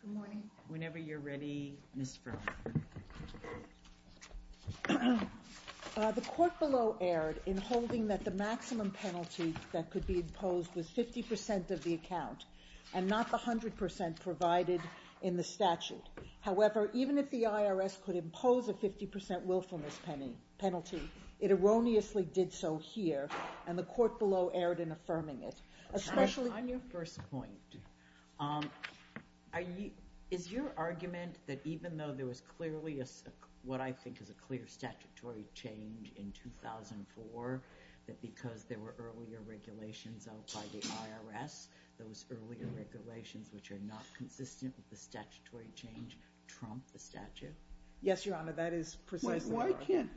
Good morning. Whenever you're ready, Ms. Frum. The court below erred in holding that the maximum penalty that could be imposed was 50% of the account, and not the 100% provided in the statute. However, even if the IRS could impose a 50% willfulness penalty, it erroneously did so here, and the court below erred in affirming it, especially- On your first point, is your argument that even though there was clearly what I think is a clear statutory change in 2004, that because there were earlier regulations out by the IRS, those earlier regulations, which are not consistent with the statutory change, trump the statute? Yes, Your Honor, that is precisely- Wait, why can't-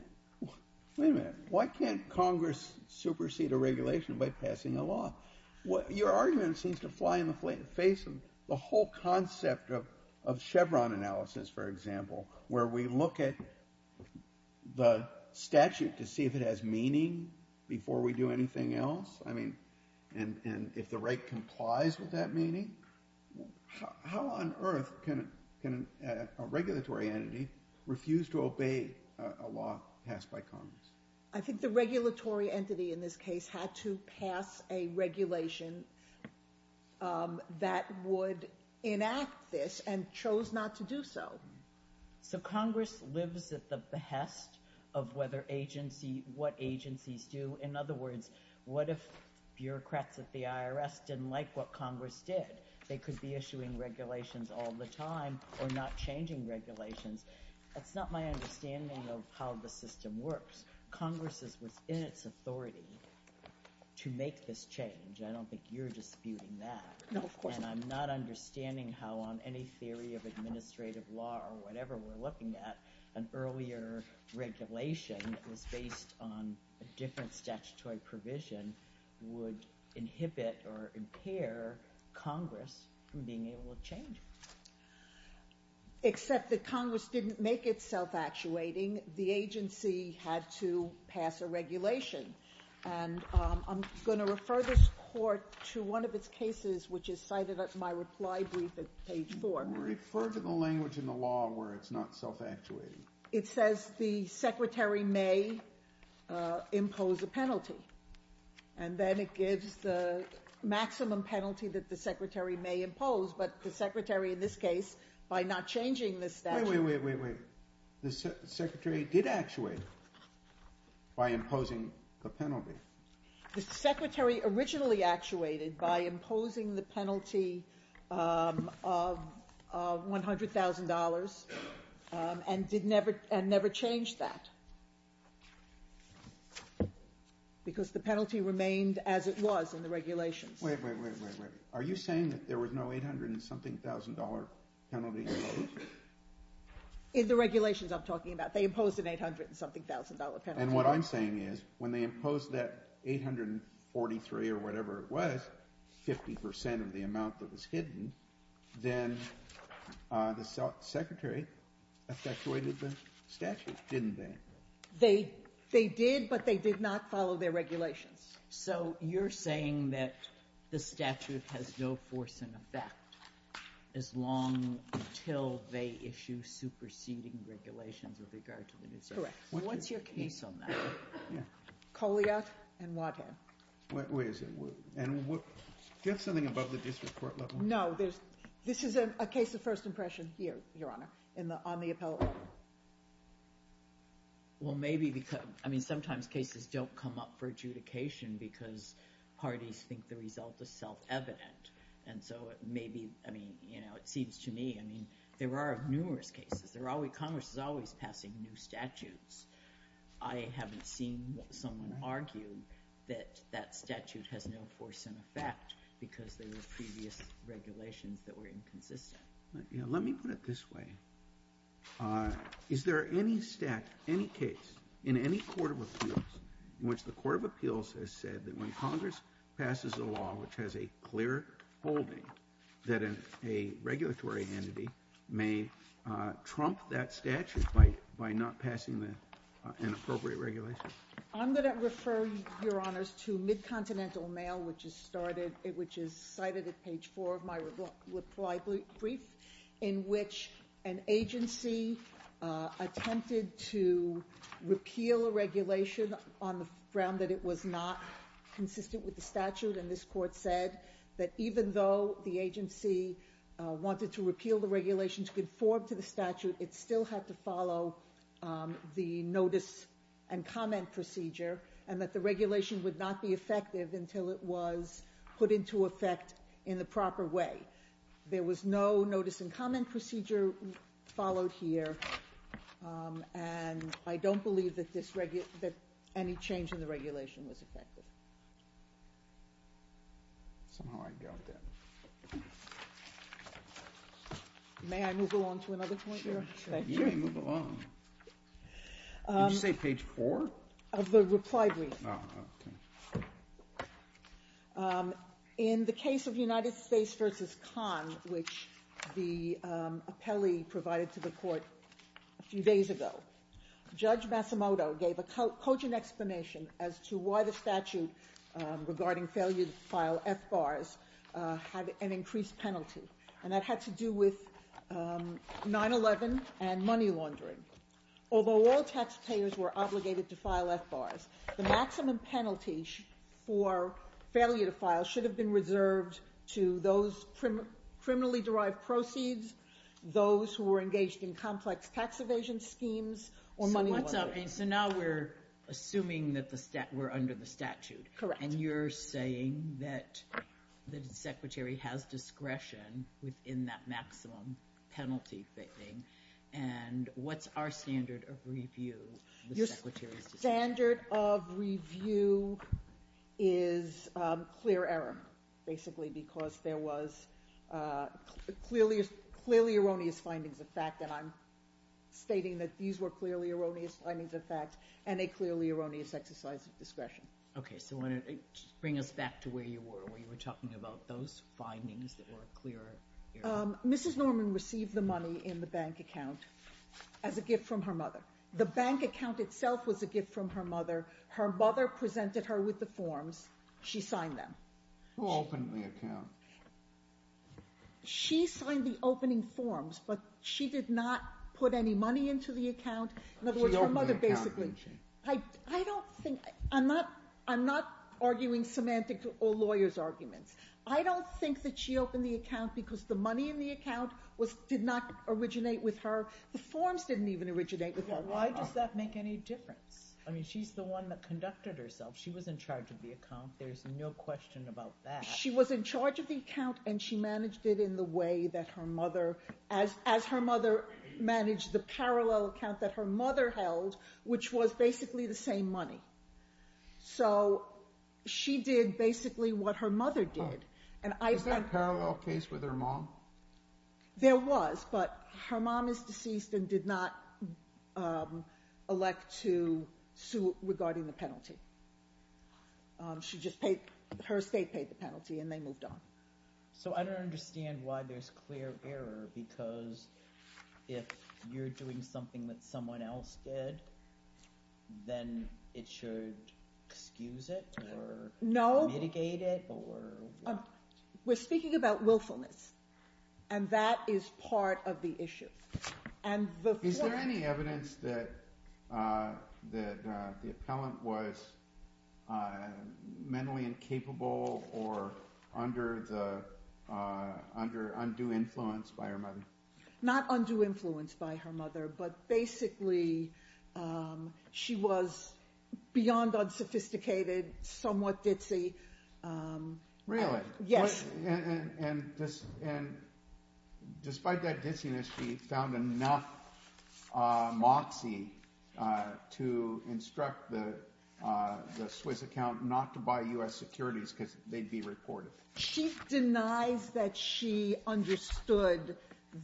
Wait a minute. Why can't Congress supersede a regulation by passing a law? Your argument seems to fly in the face of the whole concept of Chevron analysis, for example, where we look at the statute to see if it has meaning before we do anything else, and if the right complies with that meaning. How on earth can a regulatory entity refuse to obey a law passed by Congress? I think the regulatory entity in this case had to pass a regulation that would in effect enact this, and chose not to do so. So Congress lives at the behest of what agencies do. In other words, what if bureaucrats at the IRS didn't like what Congress did? They could be issuing regulations all the time, or not changing regulations. That's not my understanding of how the system works. Congress was in its authority to make this change. I don't think you're disputing that. No, of course not. And I'm not understanding how on any theory of administrative law or whatever we're looking at, an earlier regulation that was based on a different statutory provision would inhibit or impair Congress from being able to change it. Except that Congress didn't make it self-actuating. The agency had to pass a regulation. I'm going to refer this Court to one of its cases, which is cited in my reply brief at page 4. Refer to the language in the law where it's not self-actuating. It says the Secretary may impose a penalty, and then it gives the maximum penalty that the Secretary may impose. But the Secretary in this case, by not changing the statute... Wait, wait, wait, wait. The Secretary did actuate by imposing the penalty. The Secretary originally actuated by imposing the penalty of $100,000, and never changed that, because the penalty remained as it was in the regulations. Wait, wait, wait, wait. Are you saying that there was no $800-and-something-thousand-dollar penalty imposed? In the regulations I'm talking about, they imposed an $800-and-something-thousand-dollar penalty. And what I'm saying is, when they imposed that $843 or whatever it was, 50 percent of the amount that was hidden, then the Secretary effectuated the statute, didn't they? They did, but they did not follow their regulations. So you're saying that the statute has no force in effect as long until they issue superseding regulations with regard to the new statute? Correct. What's your case on that? Colliott and Watthead. Wait a second. Do you have something above the district court level? No. This is a case of first impression here, Your Honor, on the appellate. Well, maybe because, I mean, sometimes cases don't come up for adjudication because parties think the result is self-evident. And so maybe, I mean, you know, it seems to me, I mean, there are numerous cases. Congress is always passing new statutes. I haven't seen someone argue that that statute has no force in effect, because there were previous regulations that were inconsistent. Let me put it this way. Is there any statute, any case in any court of appeals in which the court of appeals has said that when Congress passes a law which has a clear holding that a regulatory entity may trump that statute by not passing an appropriate regulation? I'm going to refer, Your Honors, to Mid-Continental Mail, which is cited at page 4 of my brief in which an agency attempted to repeal a regulation on the ground that it was not consistent with the statute. And this court said that even though the agency wanted to repeal the regulation to conform to the statute, it still had to follow the notice and comment procedure and that the regulation would not be effective until it was put into effect in the proper way. There was no notice and comment procedure followed here, and I don't believe that any change in the regulation was effective. Somehow I doubt that. May I move along to another point, Your Honor? Sure, sure. You may move along. Did you say page 4? Of the reply brief. Oh, okay. In the case of United States v. Khan, which the appellee provided to the court a few days ago, Judge Masumoto gave a cogent explanation as to why the statute regarding failure to file FBARs had an increased penalty, and that had to do with 9-11 and money laundering. Although all taxpayers were obligated to file FBARs, the maximum penalty for failure to file should have been reserved to those criminally-derived proceeds, those who were engaged in complex tax evasion schemes, or money laundering. So now we're assuming that we're under the statute, and you're saying that the Secretary has discretion within that maximum penalty thing, and what's our standard of review? Your standard of review is clear error, basically, because there was clearly erroneous findings of fact, and I'm stating that these were clearly erroneous findings of fact, and a clearly erroneous exercise of discretion. Okay, so bring us back to where you were, where you were talking about those findings that were clear error. Mrs. Norman received the money in the bank account as a gift from her mother. The bank account itself was a gift from her mother. Her mother presented her with the forms. She signed them. Who opened the account? She signed the opening forms, but she did not put any money into the account. She opened the account, didn't she? I don't think, I'm not arguing semantic or lawyer's arguments. I don't think that she opened the account because the money in the account did not originate with her. The forms didn't even originate with her. Why does that make any difference? I mean, she's the one that conducted herself. She was in charge of the account. There's no question about that. She was in charge of the account, and she managed it in the way that her mother, as So she did basically what her mother did. Is there a parallel case with her mom? There was, but her mom is deceased and did not elect to sue regarding the penalty. Her estate paid the penalty, and they moved on. So I don't understand why there's clear error because if you're doing something that someone else did, then it should excuse it or mitigate it or what? We're speaking about willfulness, and that is part of the issue. Is there any evidence that the appellant was mentally incapable or under undue influence by her mother? Not under influence by her mother, but basically she was beyond unsophisticated, somewhat ditzy. Really? Yes. And despite that ditziness, she found enough moxie to instruct the Swiss account not to buy U.S. securities because they'd be reported. She denies that she understood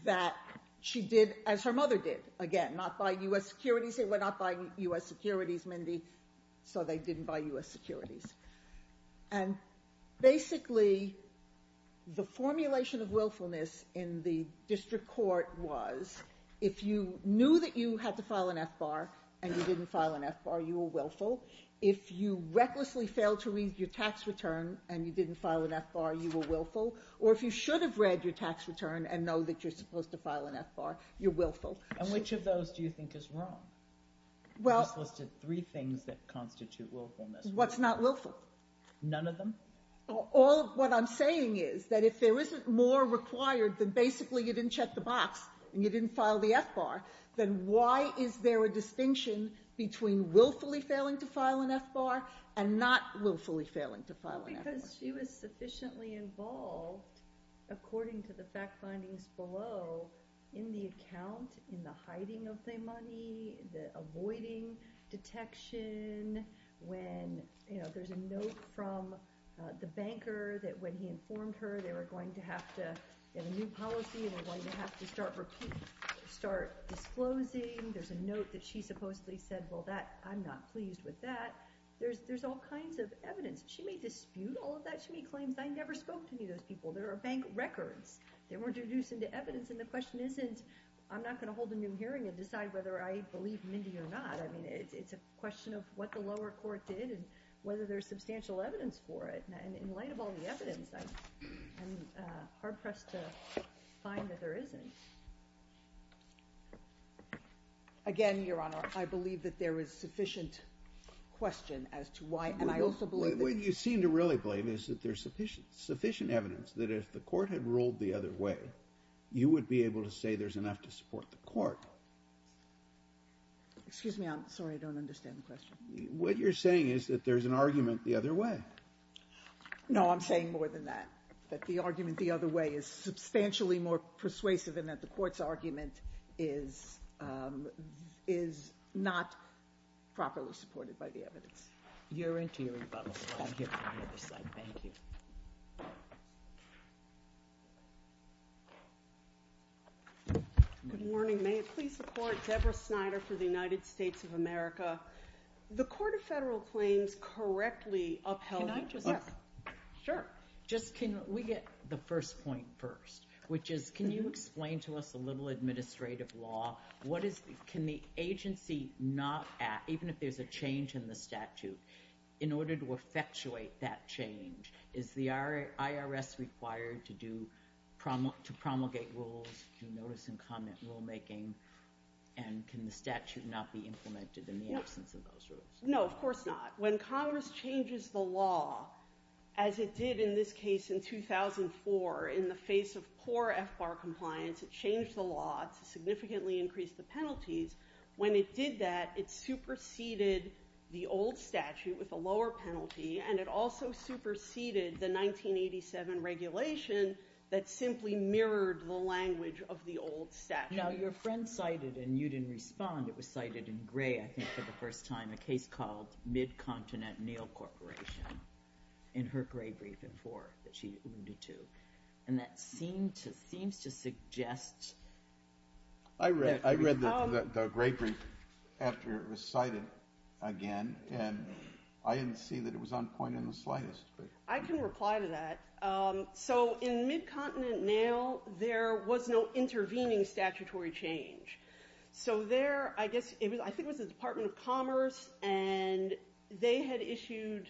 that she did as her mother did. Again, not buy U.S. securities. They were not buying U.S. securities, Mindy, so they didn't buy U.S. securities. And basically, the formulation of willfulness in the district court was if you knew that you had to file an F-bar and you didn't file an F-bar, you were willful. If you recklessly failed to read your tax return and you didn't file an F-bar, you were willful. Or if you should have read your tax return and know that you're supposed to file an F-bar, you're willful. And which of those do you think is wrong? Well. I just listed three things that constitute willfulness. What's not willful? None of them. All of what I'm saying is that if there isn't more required, then basically you didn't check the box and you didn't file the F-bar, then why is there a distinction between willfully failing to file an F-bar and not willfully failing to file an F-bar? Because she was sufficiently involved, according to the fact findings below, in the account, in the hiding of the money, the avoiding detection, when, you know, there's a note from the banker that when he informed her they were going to have to have a new policy and were going to have to start disclosing. There's a note that she supposedly said, well, I'm not pleased with that. There's all kinds of evidence. She may dispute all of that. She may claim, I never spoke to any of those people. There are bank records. They were introduced into evidence. And the question isn't, I'm not going to hold a new hearing and decide whether I believe Mindy or not. I mean, it's a question of what the lower court did and whether there's substantial evidence for it. And in light of all the evidence, I'm hard-pressed to find that there isn't. Again, Your Honor, I believe that there is sufficient question as to why. And I also believe that the ---- What you seem to really blame is that there's sufficient evidence that if the court had ruled the other way, you would be able to say there's enough to support the court. Excuse me. I'm sorry. I don't understand the question. What you're saying is that there's an argument the other way. No, I'm saying more than that, that the argument the other way is substantially more persuasive in that the court's argument is not properly supported by the evidence. You're into your rebuttal. I'll get to the other side. Thank you. Good morning. May it please the Court, Deborah Snyder for the United States of America. The Court of Federal Claims correctly upheld ---- Can I just ---- Yes, sure. Just can we get the first point first, which is can you explain to us a little administrative law? What is the ---- Can the agency not act, even if there's a change in the statute, in order to effectuate that change? Is the IRS required to promulgate rules, to notice and comment rulemaking? And can the statute not be implemented in the absence of those rules? No, of course not. When Congress changes the law, as it did in this case in 2004, in the face of poor FBAR compliance, it changed the law to significantly increase the penalties. When it did that, it superseded the old statute with a lower penalty, and it also superseded the 1987 regulation that simply mirrored the language of the old statute. Now, your friend cited, and you didn't respond, it was cited in gray, I think, for the first time, a case called Mid-Continent Nail Corporation in her gray brief in 2004 that she alluded to. And that seems to suggest ---- I read the gray brief after it was cited again, and I didn't see that it was on point in the slightest. I can reply to that. So in Mid-Continent Nail, there was no intervening statutory change. So there, I guess, I think it was the Department of Commerce, and they had issued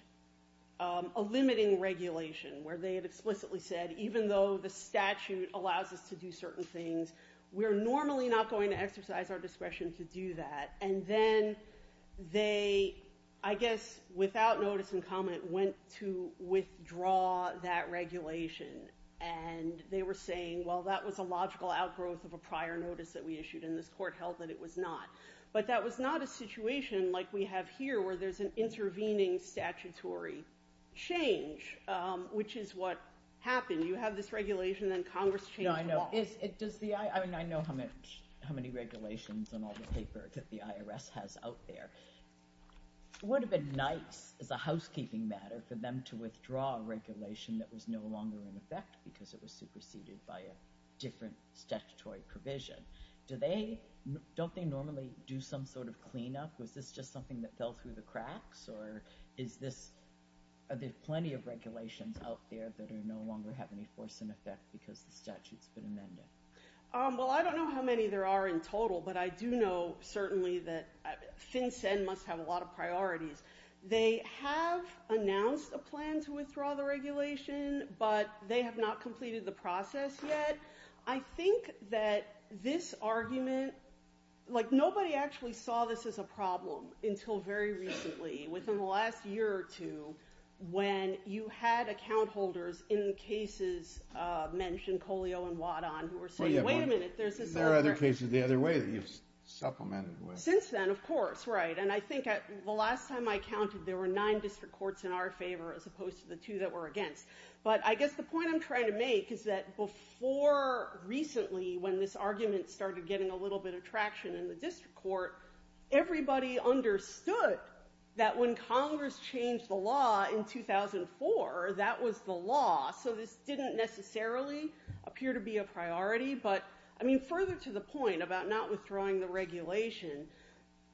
a limiting regulation where they had explicitly said, even though the statute allows us to do certain things, we're normally not going to exercise our discretion to do that. And then they, I guess, without notice and comment, went to withdraw that regulation. And they were saying, well, that was a logical outgrowth of a prior notice that we issued, and this court held that it was not. But that was not a situation like we have here where there's an intervening statutory change, which is what happened. You have this regulation, then Congress changed the law. I know how many regulations on all the paper that the IRS has out there. It would have been nice, as a housekeeping matter, for them to withdraw a regulation that was no longer in effect because it was superseded by a different statutory provision. Don't they normally do some sort of cleanup? Was this just something that fell through the cracks, or are there plenty of regulations out there that no longer have any force in effect because the statute's been amended? Well, I don't know how many there are in total, but I do know certainly that FinCEN must have a lot of priorities. They have announced a plan to withdraw the regulation, but they have not completed the process yet. I think that this argument, like nobody actually saw this as a problem until very recently, within the last year or two, when you had account holders in cases mentioned, Colio and Wadan, who were saying, wait a minute, there's this other thing. Since then, of course, right. And I think the last time I counted, there were nine district courts in our favor as opposed to the two that were against. But I guess the point I'm trying to make is that before recently, when this argument started getting a little bit of traction in the district court, everybody understood that when Congress changed the law in 2004, that was the law. So this didn't necessarily appear to be a priority. But, I mean, further to the point about not withdrawing the regulation,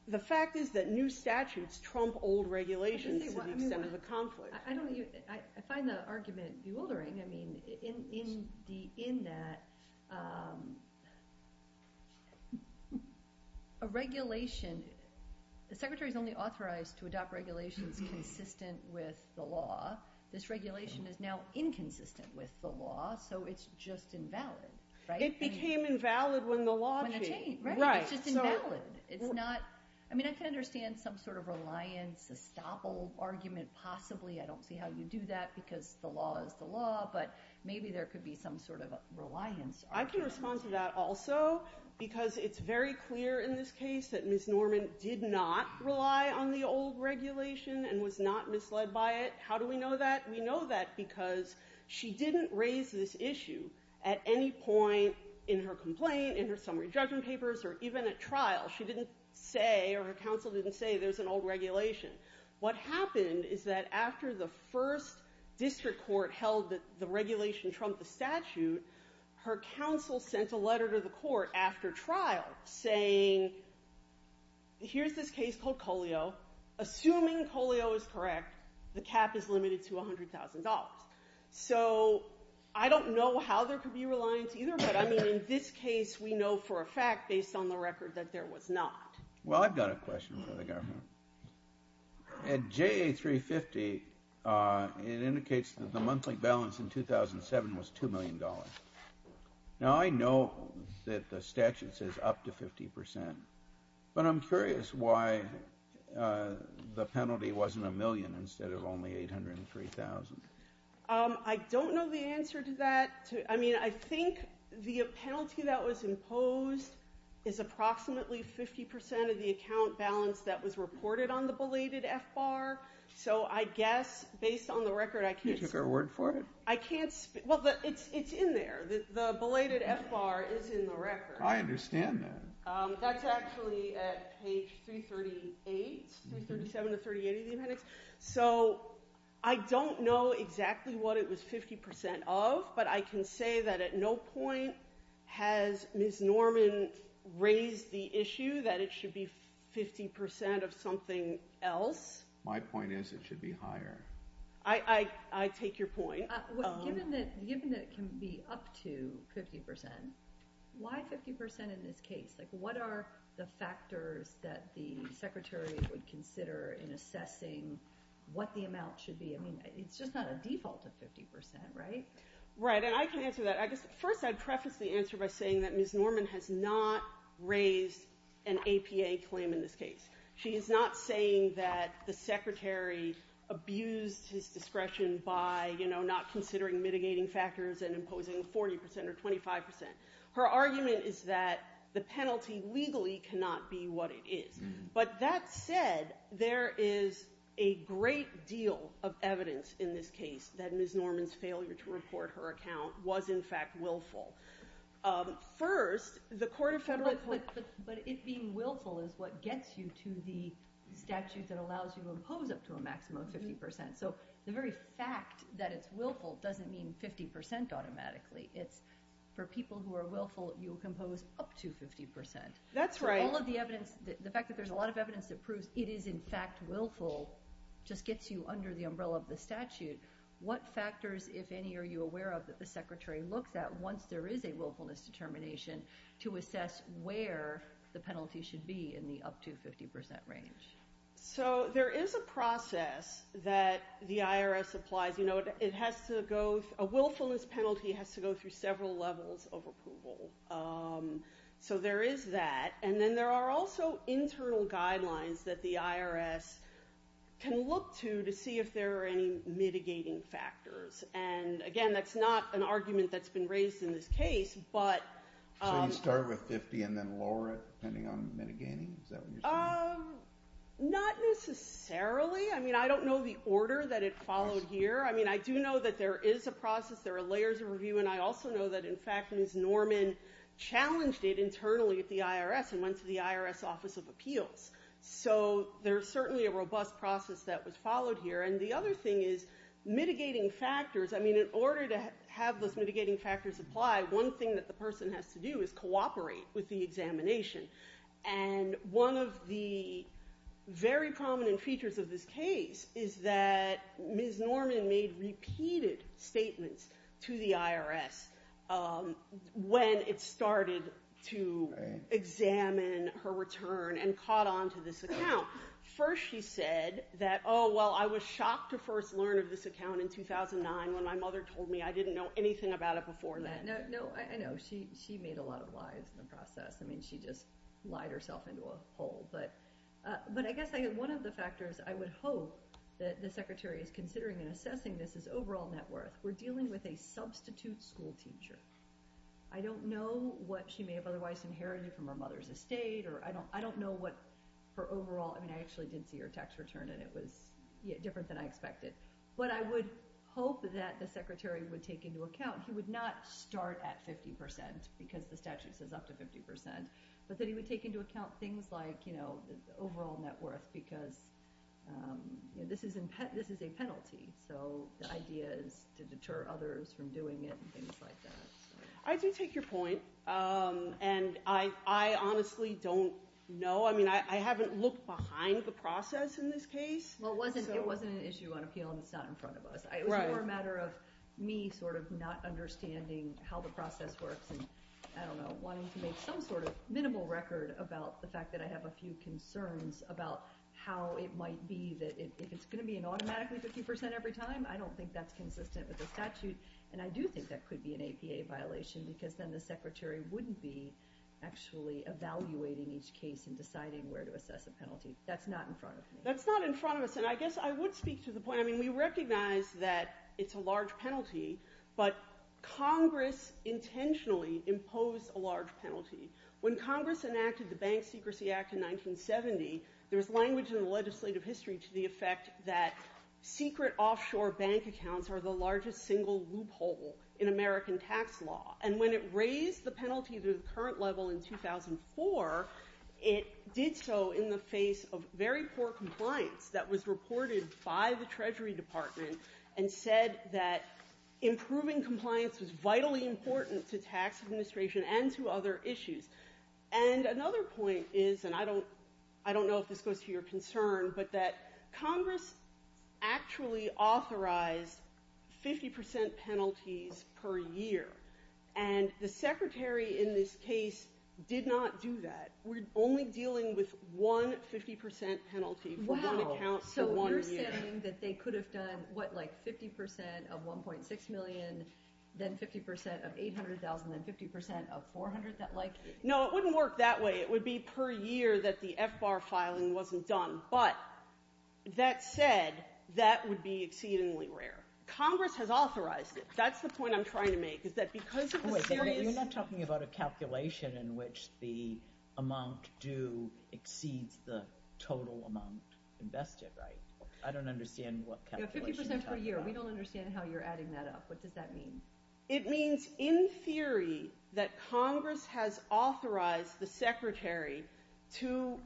the fact is that new statutes trump old regulations to the extent of a conflict. I find the argument bewildering. I mean, in that, a regulation, the Secretary is only authorized to adopt regulations consistent with the law. This regulation is now inconsistent with the law, so it's just invalid. Right? It became invalid when the law changed. Right. It's just invalid. It's not, I mean, I can understand some sort of reliance, a stop-all argument possibly. I don't see how you do that because the law is the law, but maybe there could be some sort of a reliance argument. I can respond to that also because it's very clear in this case that Ms. Norman did not rely on the old regulation and was not misled by it. How do we know that? We know that because she didn't raise this issue at any point in her complaint, in her summary judgment papers, or even at trial. She didn't say or her counsel didn't say there's an old regulation. What happened is that after the first district court held that the regulation trumped the statute, her counsel sent a letter to the court after trial saying, here's this case called Colio. Assuming Colio is correct, the cap is limited to $100,000. So I don't know how there could be reliance either, but I mean in this case we know for a fact based on the record that there was not. Well, I've got a question for the government. At JA350, it indicates that the monthly balance in 2007 was $2 million. Now I know that the statute says up to 50%, but I'm curious why the penalty wasn't a million instead of only $803,000. I don't know the answer to that. I mean I think the penalty that was imposed is approximately 50% of the account balance that was reported on the belated FBAR. So I guess based on the record I can't speak. You took her word for it? Well, it's in there. The belated FBAR is in the record. I understand that. That's actually at page 338, 337 to 338 of the appendix. So I don't know exactly what it was 50% of, but I can say that at no point has Ms. Norman raised the issue that it should be 50% of something else. My point is it should be higher. I take your point. Given that it can be up to 50%, why 50% in this case? What are the factors that the secretary would consider in assessing what the amount should be? I mean it's just not a default of 50%, right? Right, and I can answer that. First I'd preface the answer by saying that Ms. Norman has not raised an APA claim in this case. She is not saying that the secretary abused his discretion by not considering mitigating factors and imposing 40% or 25%. Her argument is that the penalty legally cannot be what it is. But that said, there is a great deal of evidence in this case that Ms. Norman's failure to report her account was in fact willful. But it being willful is what gets you to the statute that allows you to impose up to a maximum of 50%. So the very fact that it's willful doesn't mean 50% automatically. For people who are willful, you'll impose up to 50%. That's right. The fact that there's a lot of evidence that proves it is in fact willful just gets you under the umbrella of the statute. What factors, if any, are you aware of that the secretary looks at once there is a willfulness determination to assess where the penalty should be in the up to 50% range? So there is a process that the IRS applies. You know, a willfulness penalty has to go through several levels of approval. So there is that. And then there are also internal guidelines that the IRS can look to to see if there are any mitigating factors. And again, that's not an argument that's been raised in this case. So you start with 50% and then lower it depending on mitigating? Is that what you're saying? Not necessarily. I mean, I don't know the order that it followed here. I mean, I do know that there is a process. There are layers of review. And I also know that, in fact, Ms. Norman challenged it internally at the IRS and went to the IRS Office of Appeals. So there's certainly a robust process that was followed here. And the other thing is mitigating factors. I mean, in order to have those mitigating factors apply, one thing that the person has to do is cooperate with the examination. And one of the very prominent features of this case is that Ms. Norman made repeated statements to the IRS when it started to examine her return and caught on to this account. First she said that, oh, well, I was shocked to first learn of this account in 2009 when my mother told me I didn't know anything about it before then. No, I know. She made a lot of lies in the process. I mean, she just lied herself into a hole. But I guess one of the factors I would hope that the Secretary is considering in assessing this is overall net worth. We're dealing with a substitute school teacher. I don't know what she may have otherwise inherited from her mother's estate. I don't know what her overall—I mean, I actually did see her tax return, and it was different than I expected. But I would hope that the Secretary would take into account he would not start at 50% because the statute says up to 50%, but that he would take into account things like overall net worth because this is a penalty, so the idea is to deter others from doing it and things like that. I do take your point, and I honestly don't know. I mean, I haven't looked behind the process in this case. Well, it wasn't an issue on appeal, and it's not in front of us. It was more a matter of me sort of not understanding how the process works and, I don't know, wanting to make some sort of minimal record about the fact that I have a few concerns about how it might be that if it's going to be an automatically 50% every time, I don't think that's consistent with the statute. And I do think that could be an APA violation because then the Secretary wouldn't be actually evaluating each case and deciding where to assess a penalty. That's not in front of me. That's not in front of us, and I guess I would speak to the point. I mean, we recognize that it's a large penalty, but Congress intentionally imposed a large penalty. When Congress enacted the Bank Secrecy Act in 1970, there was language in the legislative history to the effect that secret offshore bank accounts are the largest single loophole in American tax law. And when it raised the penalty to the current level in 2004, it did so in the face of very poor compliance that was reported by the Treasury Department and said that improving compliance was vitally important to tax administration and to other issues. And another point is, and I don't know if this goes to your concern, but that Congress actually authorized 50% penalties per year, and the Secretary in this case did not do that. We're only dealing with one 50% penalty for one account for one year. Are you saying that they could have done, what, like 50% of $1.6 million, then 50% of $800,000, then 50% of $400,000? No, it wouldn't work that way. It would be per year that the FBAR filing wasn't done. But that said, that would be exceedingly rare. Congress has authorized it. That's the point I'm trying to make, is that because of a serious – Wait, you're not talking about a calculation in which the amount due exceeds the total amount invested, right? I don't understand what calculation you're talking about. You know, 50% per year. We don't understand how you're adding that up. What does that mean? It means, in theory, that Congress has authorized the Secretary to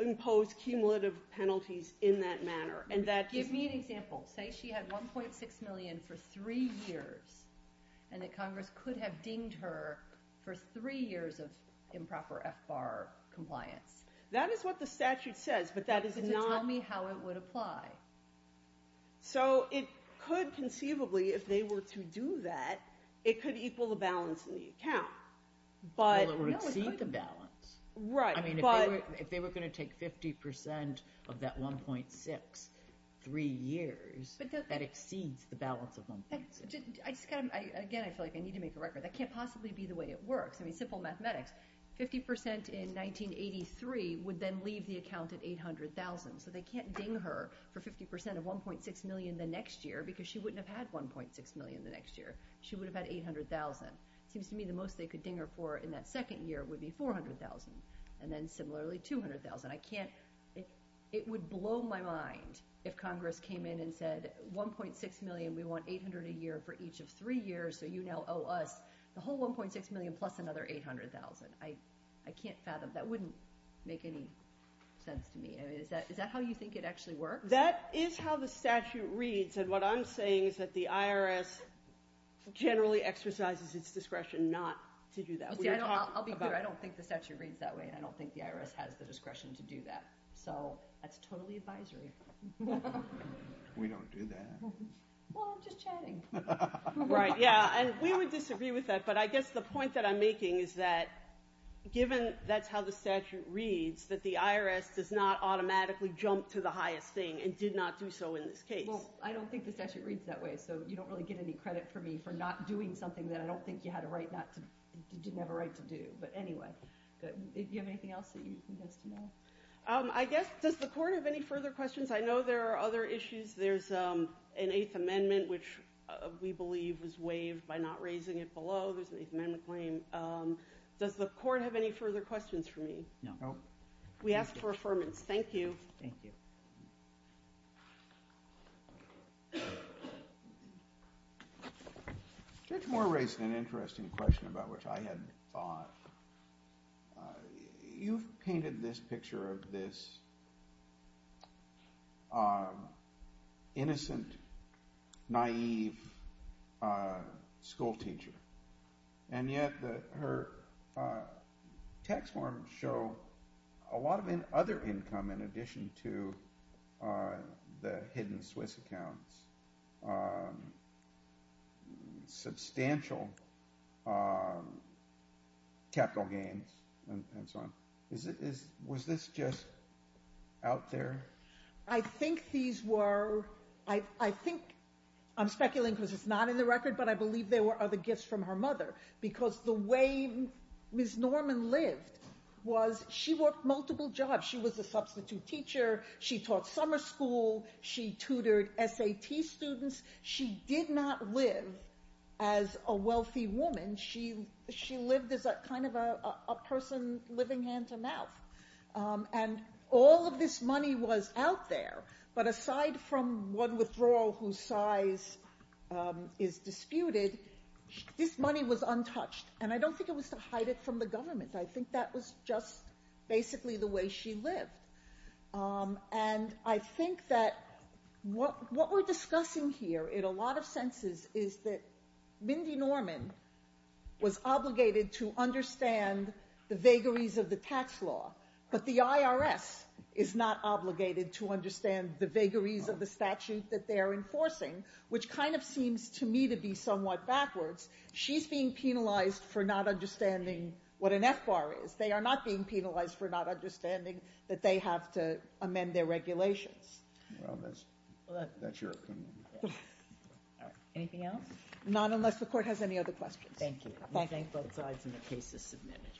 impose cumulative penalties in that manner. Give me an example. Say she had $1.6 million for three years, and that Congress could have dinged her for three years of improper FBAR compliance. That is what the statute says, but that is not – So it could conceivably, if they were to do that, it could equal the balance in the account. Well, it would exceed the balance. Right, but – I mean, if they were going to take 50% of that 1.6 three years, that exceeds the balance of 1.6. Again, I feel like I need to make a record. That can't possibly be the way it works. I mean, simple mathematics. 50% in 1983 would then leave the account at $800,000, so they can't ding her for 50% of $1.6 million the next year because she wouldn't have had $1.6 million the next year. She would have had $800,000. It seems to me the most they could ding her for in that second year would be $400,000, and then similarly $200,000. I can't – it would blow my mind if Congress came in and said, $1.6 million, we want $800,000 a year for each of three years, so you now owe us the whole $1.6 million plus another $800,000. I can't fathom – that wouldn't make any sense to me. Is that how you think it actually works? That is how the statute reads, and what I'm saying is that the IRS generally exercises its discretion not to do that. I'll be clear. I don't think the statute reads that way, and I don't think the IRS has the discretion to do that. So that's totally advisory. We don't do that. Well, I'm just chatting. Right, yeah, and we would disagree with that, but I guess the point that I'm making is that given that's how the statute reads, that the IRS does not automatically jump to the highest thing and did not do so in this case. Well, I don't think the statute reads that way, so you don't really get any credit for me for not doing something that I don't think you had a right not to – didn't have a right to do. But anyway, good. Do you have anything else that you'd like us to know? I guess – does the Court have any further questions? I know there are other issues. There's an Eighth Amendment, which we believe was waived by not raising it below. There's an Eighth Amendment claim. Does the Court have any further questions for me? No. We ask for affirmance. Thank you. Thank you. Judge Moore raised an interesting question about which I had thought. You've painted this picture of this innocent, naive schoolteacher, and yet her tax forms show a lot of other income in addition to the hidden Swiss accounts, substantial capital gains and so on. Was this just out there? I think these were – I think – I'm speculating because it's not in the record, but I believe there were other gifts from her mother because the way Ms. Norman lived was she worked multiple jobs. She was a substitute teacher. She taught summer school. She tutored SAT students. She did not live as a wealthy woman. She lived as kind of a person living hand to mouth, and all of this money was out there. But aside from one withdrawal whose size is disputed, this money was untouched, and I don't think it was to hide it from the government. I think that was just basically the way she lived. And I think that what we're discussing here in a lot of senses is that Mindy Norman was obligated to understand the vagaries of the tax law, but the IRS is not obligated to understand the vagaries of the statute that they are enforcing, which kind of seems to me to be somewhat backwards. She's being penalized for not understanding what an FBAR is. They are not being penalized for not understanding that they have to amend their regulations. Well, that's your opinion. All right. Anything else? Not unless the Court has any other questions. Thank you. We thank both sides, and the case is submitted.